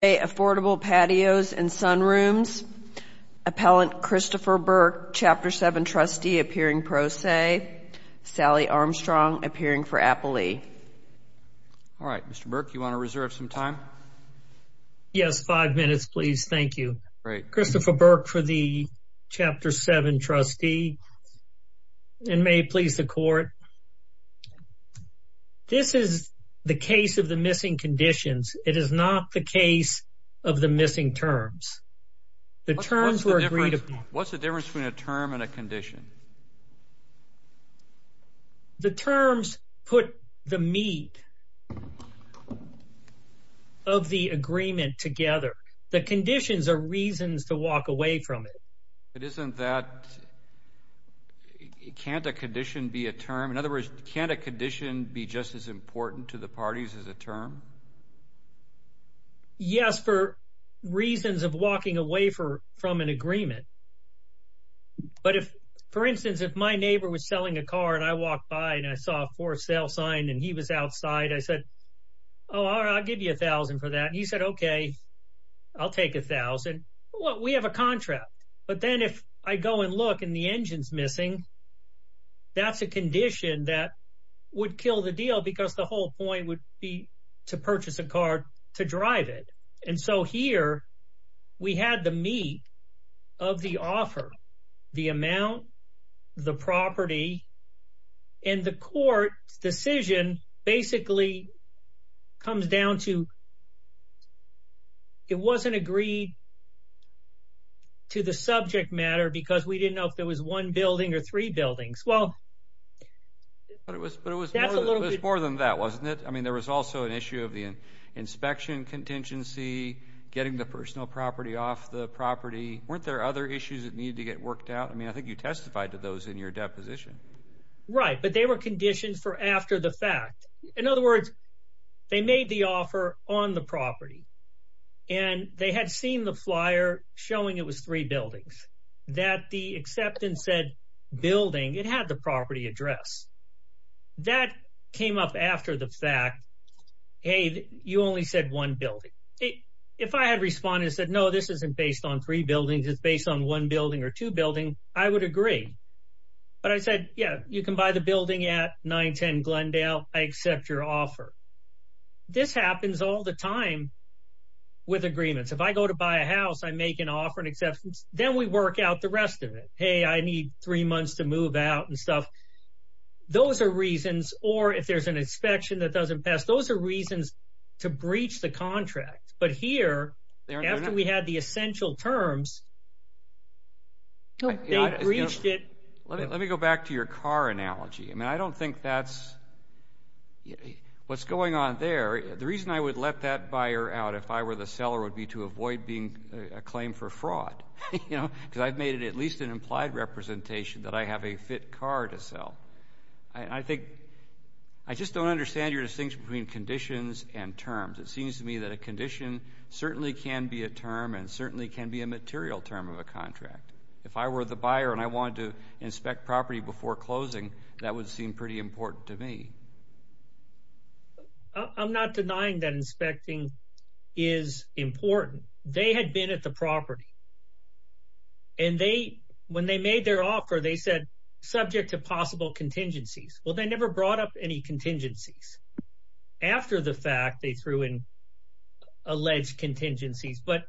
AFFORDABLE PATIOS & SUNROOMS, APPELLANT CHRISTOPHER BURKE, CHAPTER 7 TRUSTEE, APPEARING PRO SE, SALLY ARMSTRONG, APPEARING FOR APPLELEA. All right, Mr. Burke, you want to reserve some time? Yes. Five minutes, please. Thank you. Great. Christopher Burke for the Chapter 7 Trustee, and may it please the court. This is the case of the missing conditions. It is not the case of the missing terms. The terms were agreed upon. What's the difference between a term and a condition? The terms put the meat of the agreement together. The conditions are reasons to walk away from it. It isn't that. Can't a condition be a term? In other words, can't a condition be just as important to the parties as a term? Yes, for reasons of walking away from an agreement. But if, for instance, if my neighbor was selling a car and I walked by and I saw a for sale sign and he was outside, I said, oh, I'll give you a thousand for that. And he said, okay, I'll take a thousand. Well, we have a contract. But then if I go and look and the engine's missing, that's a condition that would kill the deal because the whole point would be to purchase a car to drive it. And so here we had the meat of the offer, the amount, the property. And the court's decision basically comes down to it wasn't agreed to the subject matter because we didn't know if there was one building or three buildings. Well, that's a little bit more than that, wasn't it? I mean, there was also an issue of the inspection contingency, getting the personal property off the property. Weren't there other issues that needed to get worked out? I mean, I think you testified to those in your deposition. Right. But they were conditions for after the fact. In other words, they made the offer on the property and they had seen the flyer showing it was three buildings. That the acceptance said building, it had the property address that came up after the fact, Hey, you only said one building. If I had responded and said, no, this isn't based on three buildings. It's based on one building or two building. I would agree. But I said, yeah, you can buy the building at 910 Glendale. I accept your offer. This happens all the time with agreements. If I go to buy a house, I make an offer and acceptance. Then we work out the rest of it. Hey, I need three months to move out and stuff. Those are reasons, or if there's an inspection that doesn't pass, those are reasons to breach the contract. But here, after we had the essential terms, they breached it. Let me, let me go back to your car analogy. I mean, I don't think that's what's going on there. The reason I would let that buyer out if I were the seller would be to avoid being a claim for fraud, you know, because I've made it at least an implied representation that I have a fit car to sell. I think, I just don't understand your distinction between conditions and terms. It seems to me that a condition certainly can be a term and certainly can be a material term of a contract. If I were the buyer and I wanted to inspect property before closing, that would seem pretty important to me. I'm not denying that inspecting is important. They had been at the property and they, when they made their offer, they said, subject to possible contingencies. Well, they never brought up any contingencies. After the fact they threw in alleged contingencies, but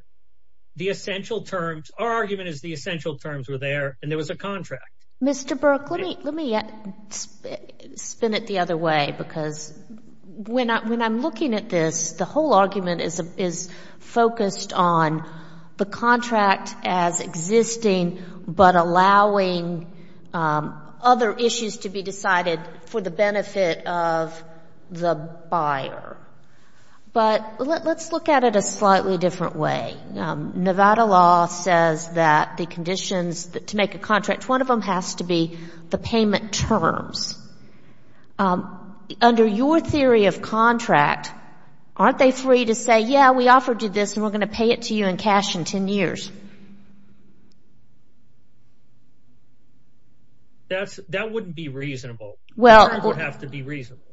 the essential terms, our argument is the essential terms were there and there was a contract. Mr. the other way, because when I'm, when I'm looking at this, the whole argument is, is focused on the contract as existing, but allowing other issues to be decided for the benefit of the buyer. But let's look at it a slightly different way. Nevada law says that the conditions that to make a contract, one of them has to be the payment terms. Under your theory of contract, aren't they free to say, yeah, we offered you this and we're going to pay it to you in cash in 10 years? That's, that wouldn't be reasonable. Well, it would have to be reasonable.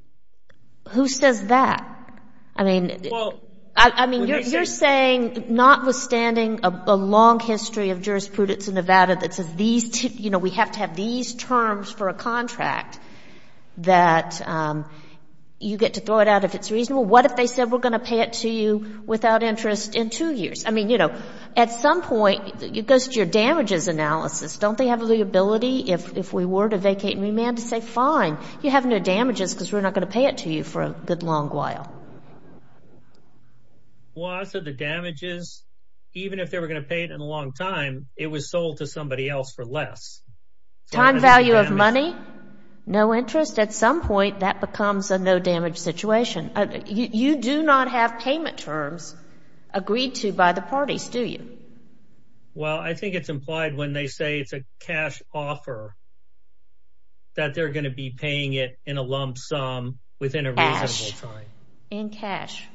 Who says that? I mean, I mean, you're saying notwithstanding a long history of having to have these terms for a contract that you get to throw it out if it's reasonable, what if they said we're going to pay it to you without interest in two years? I mean, you know, at some point it goes to your damages analysis. Don't they have the ability if we were to vacate and remand to say, fine, you have no damages because we're not going to pay it to you for a good long while. Well, I said the damages, even if they were going to pay it in a long time, it was sold to somebody else for less. Time value of money, no interest, at some point that becomes a no damage situation. You do not have payment terms agreed to by the parties, do you? Well, I think it's implied when they say it's a cash offer that they're going to be paying it in a lump sum within a reasonable time. In cash,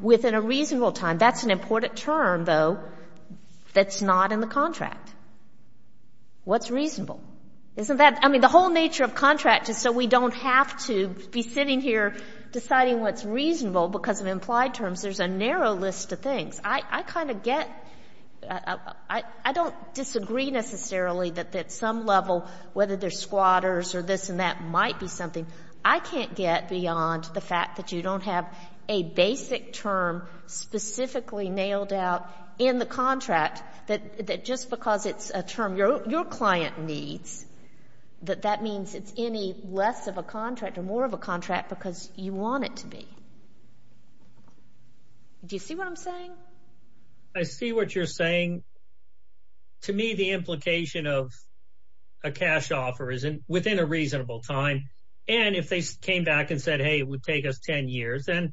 within a reasonable time. That's an important term, though, that's not in the contract. What's reasonable? Isn't that, I mean, the whole nature of contract is so we don't have to be sitting here deciding what's reasonable because of implied terms. There's a narrow list of things. I kind of get, I don't disagree necessarily that at some level, whether there's squatters or this and that might be something. I can't get beyond the fact that you don't have a basic term specifically nailed out in the contract that just because it's a term your client needs, that that means it's any less of a contract or more of a contract because you want it to be. Do you see what I'm saying? I see what you're saying. To me, the implication of a cash offer is within a reasonable time. And if they came back and said, hey, it would take us 10 years, then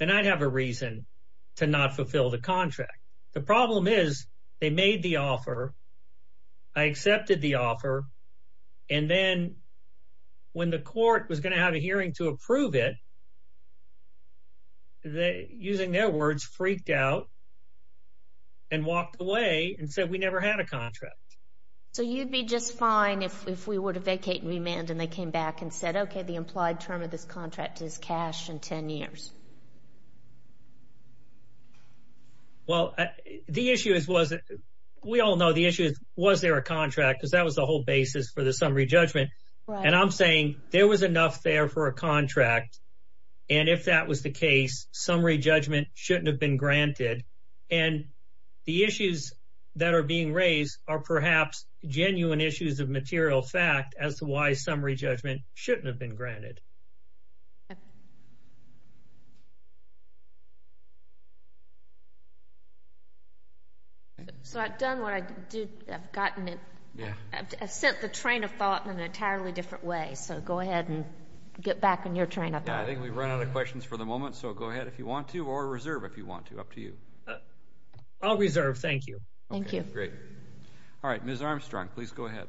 I'd have a contract. The problem is they made the offer, I accepted the offer, and then when the court was going to have a hearing to approve it, using their words, freaked out and walked away and said, we never had a contract. So you'd be just fine if we were to vacate and remand and they came back and said, okay, the implied term of this contract is cash in 10 years. Well, the issue is, we all know the issue is, was there a contract? Because that was the whole basis for the summary judgment. And I'm saying there was enough there for a contract. And if that was the case, summary judgment shouldn't have been granted. And the issues that are being raised are perhaps genuine issues of material fact as to why summary judgment shouldn't have been granted. So I've done what I do, I've gotten it, I've sent the train of thought in an entirely different way. So go ahead and get back on your train of thought. I think we've run out of questions for the moment. So go ahead if you want to, or reserve if you want to, up to you. I'll reserve. Thank you. Thank you. Great. All right. Ms. Armstrong, please go ahead.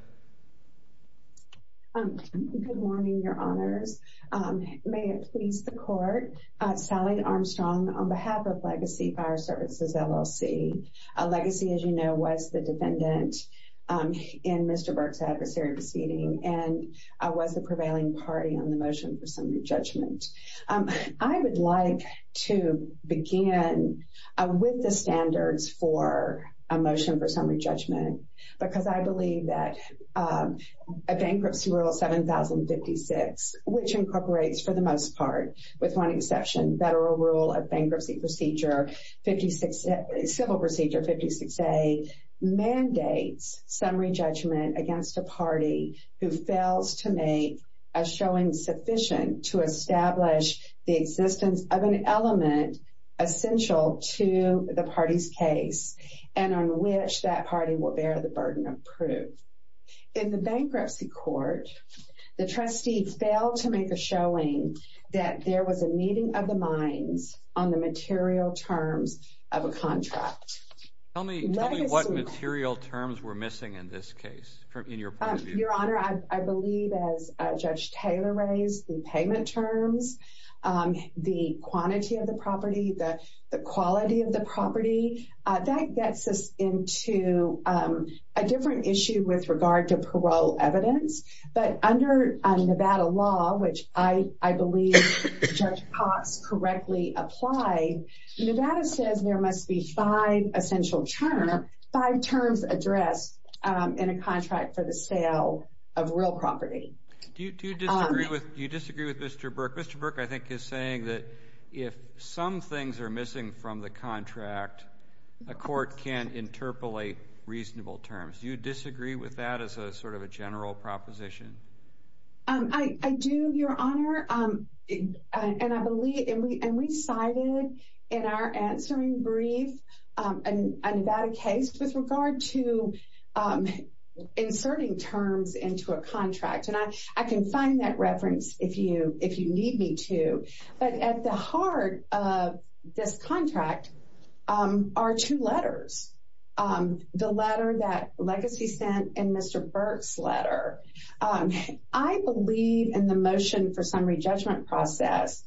Good morning, Your Honors. May it please the court, Sally Armstrong on behalf of Legacy Fire Services, LLC, Legacy, as you know, was the defendant in Mr. Burke's adversary proceeding and was the prevailing party on the motion for summary judgment. I would like to begin with the standards for a motion for summary judgment because I believe that a bankruptcy rule 7056, which incorporates for the most part, with one exception, Federal Rule of Bankruptcy Procedure 56, Civil Procedure 56A, mandates summary judgment against a party who fails to make a showing sufficient to establish the existence of an element essential to the party's case and on which that party will bear the burden of proof. In the bankruptcy court, the trustee failed to make a showing that there was a meeting of the minds on the material terms of a contract. Tell me what material terms were missing in this case, in your point of view. Your Honor, I believe as Judge Taylor raised, the payment terms, the quantity of the property, the quality of the property, that gets us into a different issue with regard to parole evidence. But under Nevada law, which I believe Judge Cox correctly applied, Nevada says there must be five essential terms, five terms addressed in a contract for the sale of real property. Do you disagree with Mr. Burke? Mr. Burke, I think, is saying that if some things are missing from the contract, a court can interpolate reasonable terms. Do you disagree with that as a sort of a general proposition? I do, Your Honor. And I believe, and we cited in our answering brief a Nevada case with regard to inserting terms into a contract. And I can find that reference if you need me to. But at the heart of this contract are two letters. The letter that Legacy sent and Mr. Burke's letter. I believe in the motion for summary judgment process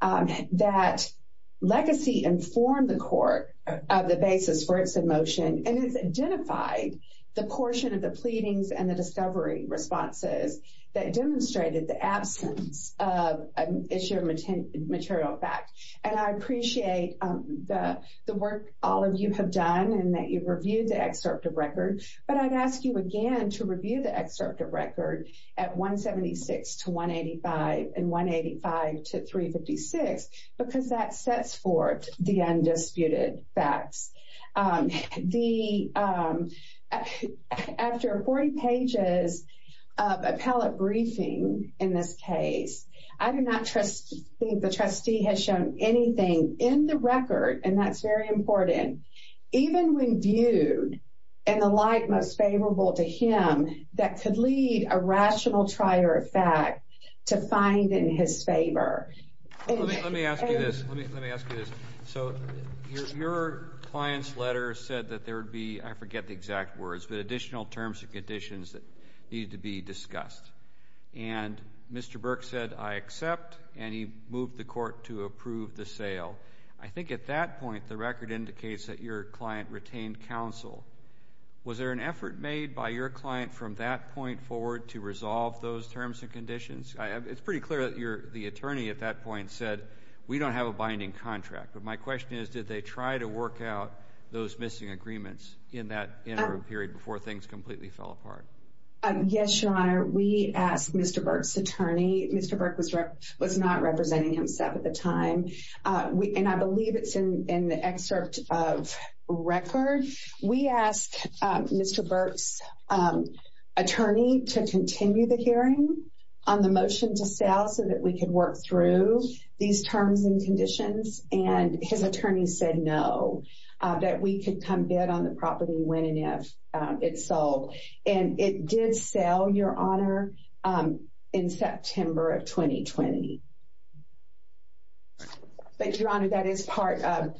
that Legacy informed the court of the basis for its motion and it's identified the portion of the pleadings and the discovery responses that demonstrated the absence of issue of material fact. And I appreciate the work all of you have done and that you've reviewed the excerpt of record. But I'd ask you again to review the excerpt of record at 176 to 185 and 185 to 356, because that sets forth the undisputed facts. After 40 pages of appellate briefing in this case, I do not trust the trustee has shown anything in the record, and that's very important, even when viewed in the light most favorable to him that could lead a rational trier of fact to find in his favor. Let me ask you this. Let me ask you this. So your client's letter said that there would be, I forget the exact words, but additional terms and conditions that need to be discussed. And Mr. Burke said, I accept, and he moved the court to approve the sale. I think at that point, the record indicates that your client retained counsel. Was there an effort made by your client from that point forward to resolve those terms and conditions? It's pretty clear that the attorney at that point said, we don't have a binding contract. But my question is, did they try to work out those missing agreements in that interim period before things completely fell apart? Yes, Your Honor. We asked Mr. Burke's attorney. Mr. Burke was not representing himself at the time. And I believe it's in the excerpt of record. We asked Mr. Burke's attorney to continue the hearing on the motion to sell so that we could work through these terms and conditions. And his attorney said no, that we could come bid on the property when and if it did sell, Your Honor, in September of 2020. But Your Honor, that is part of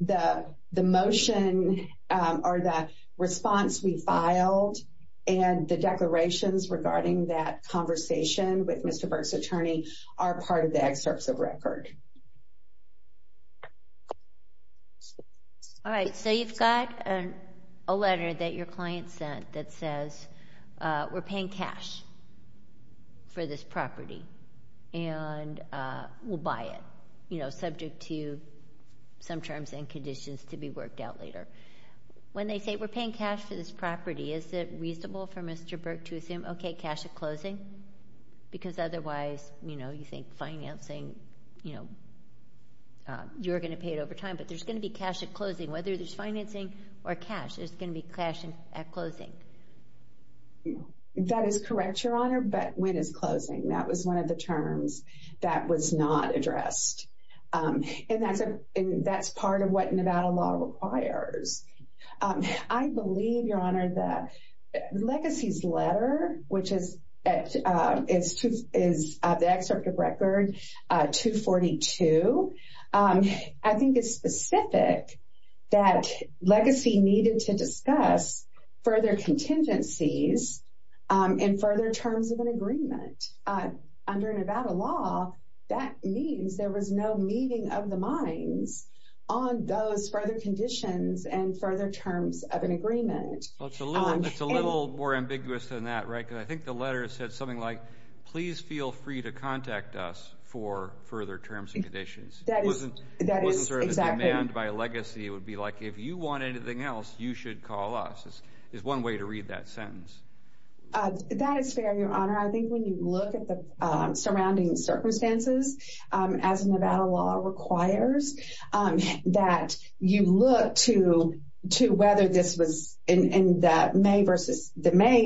the motion or the response we filed. And the declarations regarding that conversation with Mr. Burke's attorney are part of the excerpts of record. All right. So you've got a letter that your client sent that says, we're paying cash for this property and we'll buy it, you know, subject to some terms and conditions to be worked out later. When they say, we're paying cash for this property, is it reasonable for Mr. Burke to assume, okay, cash at closing? Because otherwise, you know, you think financing, you know, you're going to pay it over time, but there's going to be cash at closing. Whether there's financing or cash, there's going to be cash at closing. That is correct, Your Honor, but when is closing? That was one of the terms that was not addressed. And that's part of what Nevada law requires. I believe, Your Honor, that Legacy's letter, which is the excerpt of record 242, I think it's specific that Legacy needed to discuss further contingencies in further terms of an agreement. Under Nevada law, that means there was no meeting of the minds on those further conditions and further terms of an agreement. Well, it's a little more ambiguous than that, right? Because I think the letter said something like, please feel free to contact us for further terms and conditions. That wasn't sort of a demand by Legacy. It would be like, if you want anything else, you should call us, is one way to read that sentence. That is fair, Your Honor. I think when you look at the surrounding circumstances, as Nevada law requires, that you look to whether this was in the May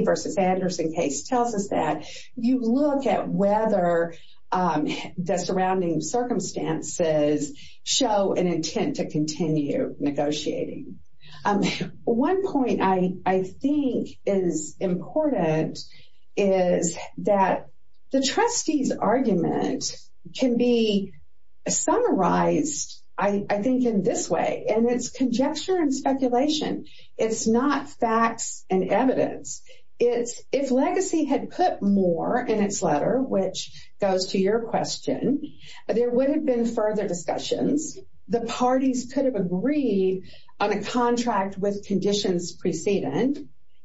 versus Anderson case tells us that you look at whether the surrounding circumstances show an intent to continue negotiating. One point I think is important is that the trustee's argument can be summarized, I think, in this way, and it's conjecture and speculation. It's not facts and evidence. It's if Legacy had put more in its letter, which goes to your question, there would have been further discussions. The parties could have agreed on a contract with conditions precedent,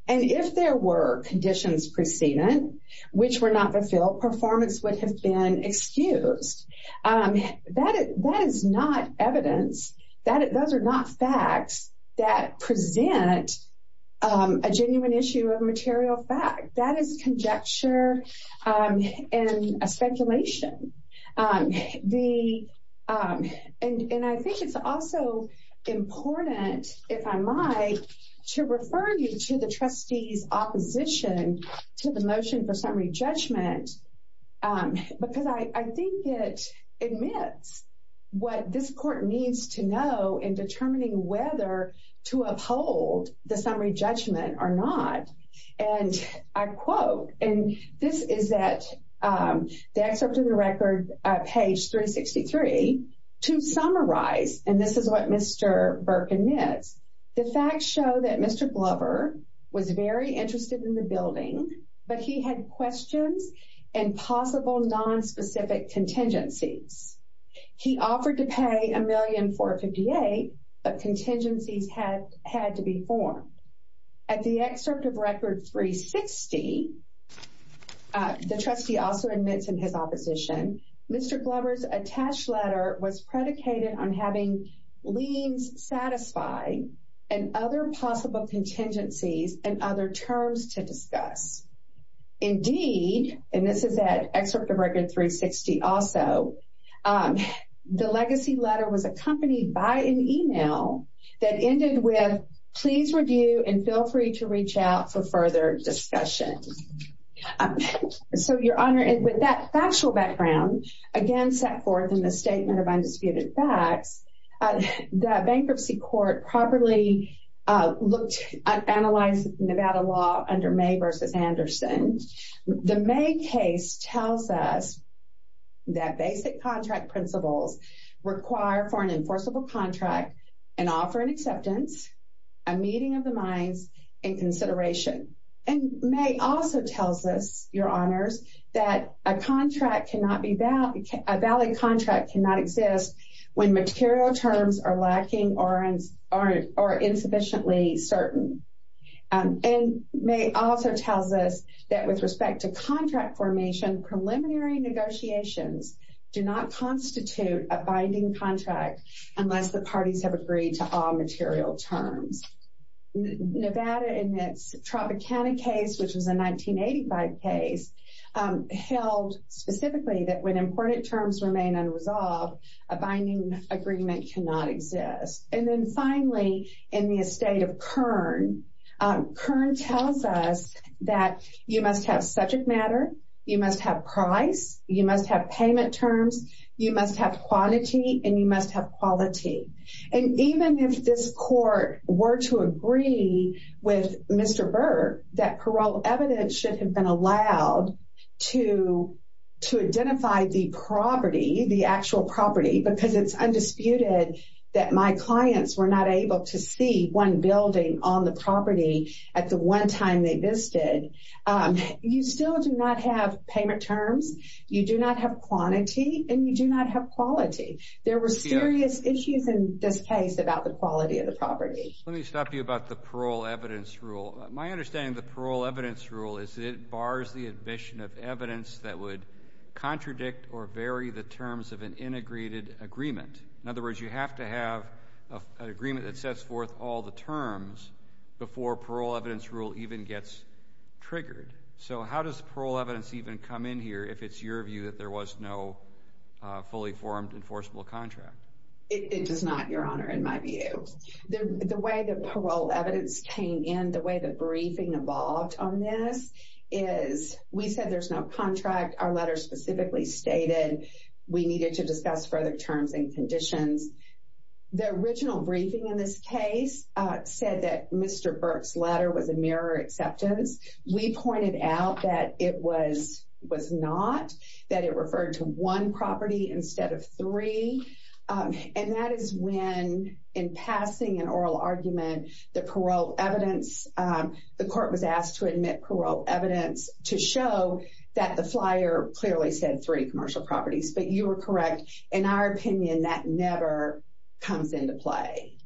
and if there were conditions precedent, which were not fulfilled, performance would have been excused. That is not evidence. Those are not facts that present a genuine issue of material fact. That is conjecture and speculation. I think it's also important, if I might, to refer you to the trustee's opposition to the motion for summary judgment because I think it admits what this court needs to know in determining whether to uphold the summary judgment or not. And I quote, and this is at the excerpt of the record, page 363, to summarize, and this is what Mr. Burke admits, the facts show that Mr. Glover was very interested in the building, but he had questions and possible nonspecific contingencies. He offered to pay $1,458,000, but contingencies had to be formed. At the excerpt of record 360, the trustee also admits in his opposition, Mr. Glover's attached letter was predicated on having liens satisfied and other possible contingencies and other terms to discuss. Indeed, and this is at excerpt of record 360 also, the legacy letter was accompanied by an email that ended with, please review and feel free to reach out for further discussion. So, Your Honor, with that factual background, again, set forth in the statement of undisputed facts, the bankruptcy court properly looked, analyzed Nevada law under May versus Anderson. The May case tells us that basic contract principles require for an enforceable contract and offer an acceptance, a meeting of the minds, and consideration. And May also tells us, Your Honors, that a contract cannot be, a valid contract cannot exist when material terms are lacking or insufficiently certain. And May also tells us that with respect to contract formation, preliminary negotiations do not constitute a binding contract unless the parties have agreed to all material terms. Nevada in its Tropicana case, which was a 1985 case, held specifically that when important terms remain unresolved, a binding agreement cannot exist. And then finally, in the estate of Kern, Kern tells us that you must have subject matter, you must have price, you must have payment terms, you must have quantity, and you must have quality. And even if this court were to agree with Mr. Burke that parole evidence should have been allowed to identify the property, the clients were not able to see one building on the property at the one time they visited. You still do not have payment terms, you do not have quantity, and you do not have quality. There were serious issues in this case about the quality of the property. Let me stop you about the parole evidence rule. My understanding of the parole evidence rule is it bars the admission of evidence that would contradict or vary the terms of an integrated agreement. In other words, you have to have an agreement that sets forth all the terms before parole evidence rule even gets triggered. So how does parole evidence even come in here if it's your view that there was no fully formed enforceable contract? It does not, Your Honor, in my view. The way the parole evidence came in, the way the briefing evolved on this is we said there's no contract. Our letter specifically stated we needed to discuss further terms and conditions. The original briefing in this case said that Mr. Burke's letter was a mirror acceptance. We pointed out that it was not, that it referred to one property instead of three. And that is when in passing an oral argument, the parole evidence, the court was asked to clearly said three commercial properties. But you were correct. In our opinion, that never comes into play.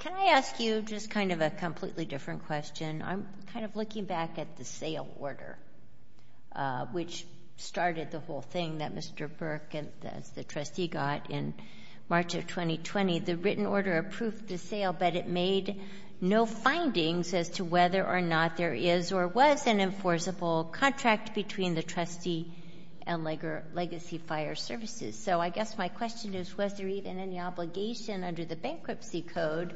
Can I ask you just kind of a completely different question? I'm kind of looking back at the sale order, which started the whole thing that Mr. Burke and the trustee got in March of 2020. The written order approved the sale, but it made no findings as to whether or not there is or was an enforceable contract between the trustee and Legacy Fire Services. So I guess my question is, was there even any obligation under the bankruptcy code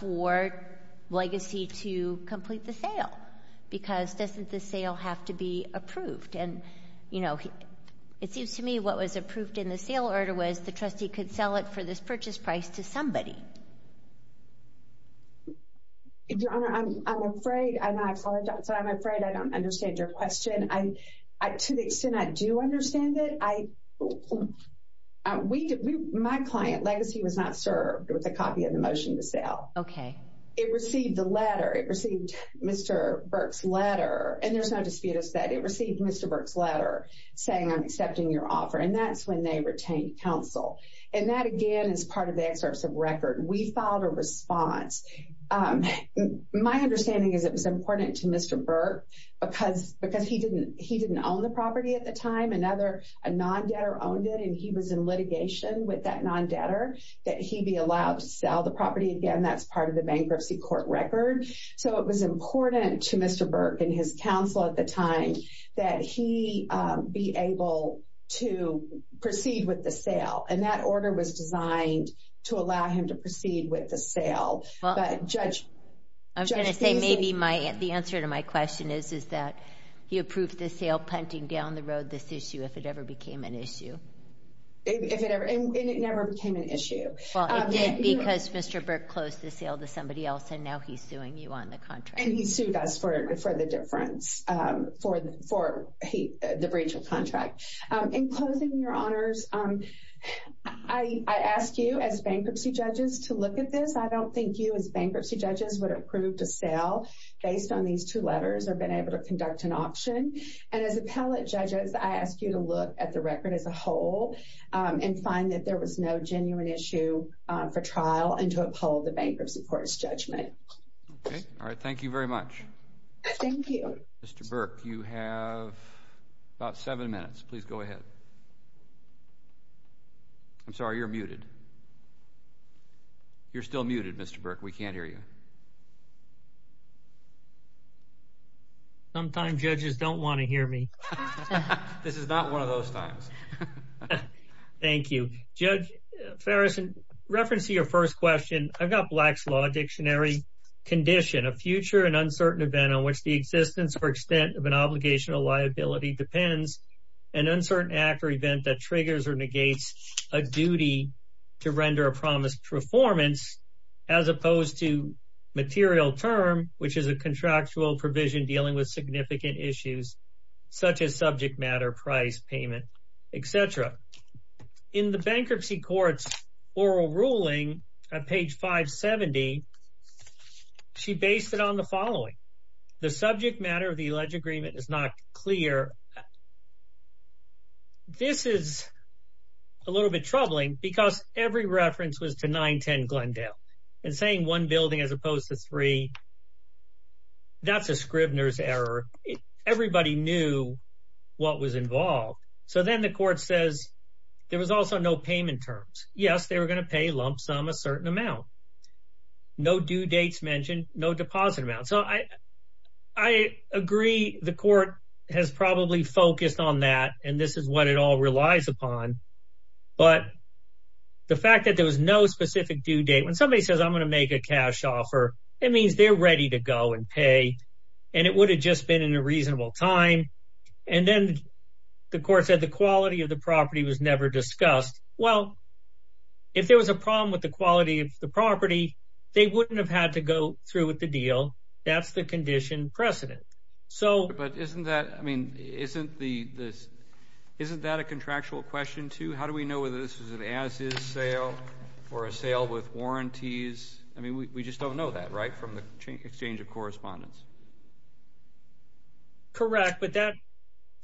for Legacy to complete the sale? Because doesn't the sale have to be approved? And, you know, it seems to me what was approved in the sale order was the trustee could sell it for this purchase price to somebody. Your Honor, I'm afraid I'm afraid I don't understand your question. To the extent I do understand it, my client, Legacy, was not served with a copy of the motion to sell. OK. It received the letter. It received Mr. Burke's letter. And there's no dispute that it received Mr. Burke's letter saying, I'm accepting your offer. And that's when they retained counsel. And that, again, is part of the excerpts of record. We filed a response. My understanding is it was important to Mr. Burke because because he didn't he didn't own the property at the time. Another non-debtor owned it and he was in litigation with that non-debtor that he be allowed to sell the property. Again, that's part of the bankruptcy court record. So it was important to Mr. Burke and his counsel at the time that he be able to proceed with the sale. And that order was designed to allow him to proceed with the sale. Well, I'm going to say maybe the answer to my question is, is that he approved the sale punting down the road this issue if it ever became an issue. If it ever and it never became an issue. Well, it did because Mr. Burke closed the sale to somebody else. And now he's suing you on the contract. And he sued us for the difference, for the breach of contract. In closing, your honors, I ask you as bankruptcy judges to look at this. I don't think you as bankruptcy judges would approve to sell based on these two letters or been able to conduct an auction. And as appellate judges, I ask you to look at the record as a whole and find that there was no genuine issue for trial and to uphold the bankruptcy court's judgment. All right. Thank you very much. Thank you, Mr. Burke. You have about seven minutes. Please go ahead. I'm sorry, you're muted. You're still muted, Mr. Burke. We can't hear you. Sometimes judges don't want to hear me. This is not one of those times. Thank you, Judge Farrison. Reference to your first question, I've got Black's Law Dictionary condition, a future and uncertain event on which the existence or extent of an obligation or liability depends, an uncertain act or event that triggers or negates a duty to render a promised performance as opposed to material term, which is a contractual provision dealing with significant issues such as subject matter, price, payment, etc. In the bankruptcy court's oral ruling at page 570, she based it on the following. The subject matter of the alleged agreement is not clear. This is a little bit troubling because every reference was to 910 Glendale and saying one building as opposed to three. That's a Scribner's error. Everybody knew what was involved. So then the court says there was also no payment terms. Yes, they were going to pay lump sum a certain amount. No due dates mentioned, no deposit amount. So I agree the court has probably focused on that. And this is what it all relies upon. But the fact that there was no specific due date, when somebody says I'm going to make a cash offer, it means they're ready to go and pay. And it would have just been in a reasonable time. And then the court said the quality of the property was never discussed. Well, if there was a problem with the quality of the property, they wouldn't have had to go through with the deal. That's the condition precedent. So but isn't that I mean, isn't the this isn't that a contractual question to how do we know whether this is an as is sale or a sale with warranties? I mean, we just don't know that right from the exchange of correspondence. Correct. But that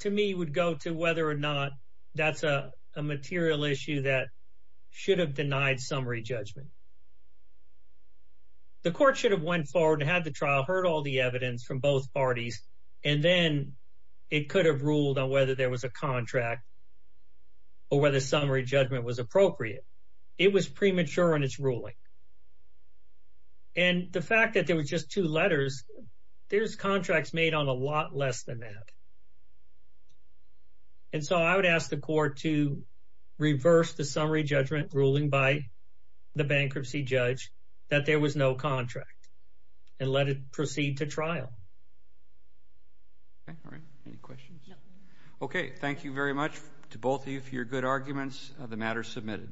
to me would go to whether or not that's a material issue that should have denied summary judgment. The court should have went forward and had the trial, heard all the evidence from both parties, and then it could have ruled on whether there was a contract or whether summary judgment was appropriate. It was premature in its ruling. And the fact that there was just two letters, there's contracts made on a lot less than that. And so I would ask the court to reverse the summary judgment ruling by the bankruptcy judge that there was no contract and let it proceed to trial. All right. Any questions? OK, thank you very much to both of you for your good arguments of the matter submitted.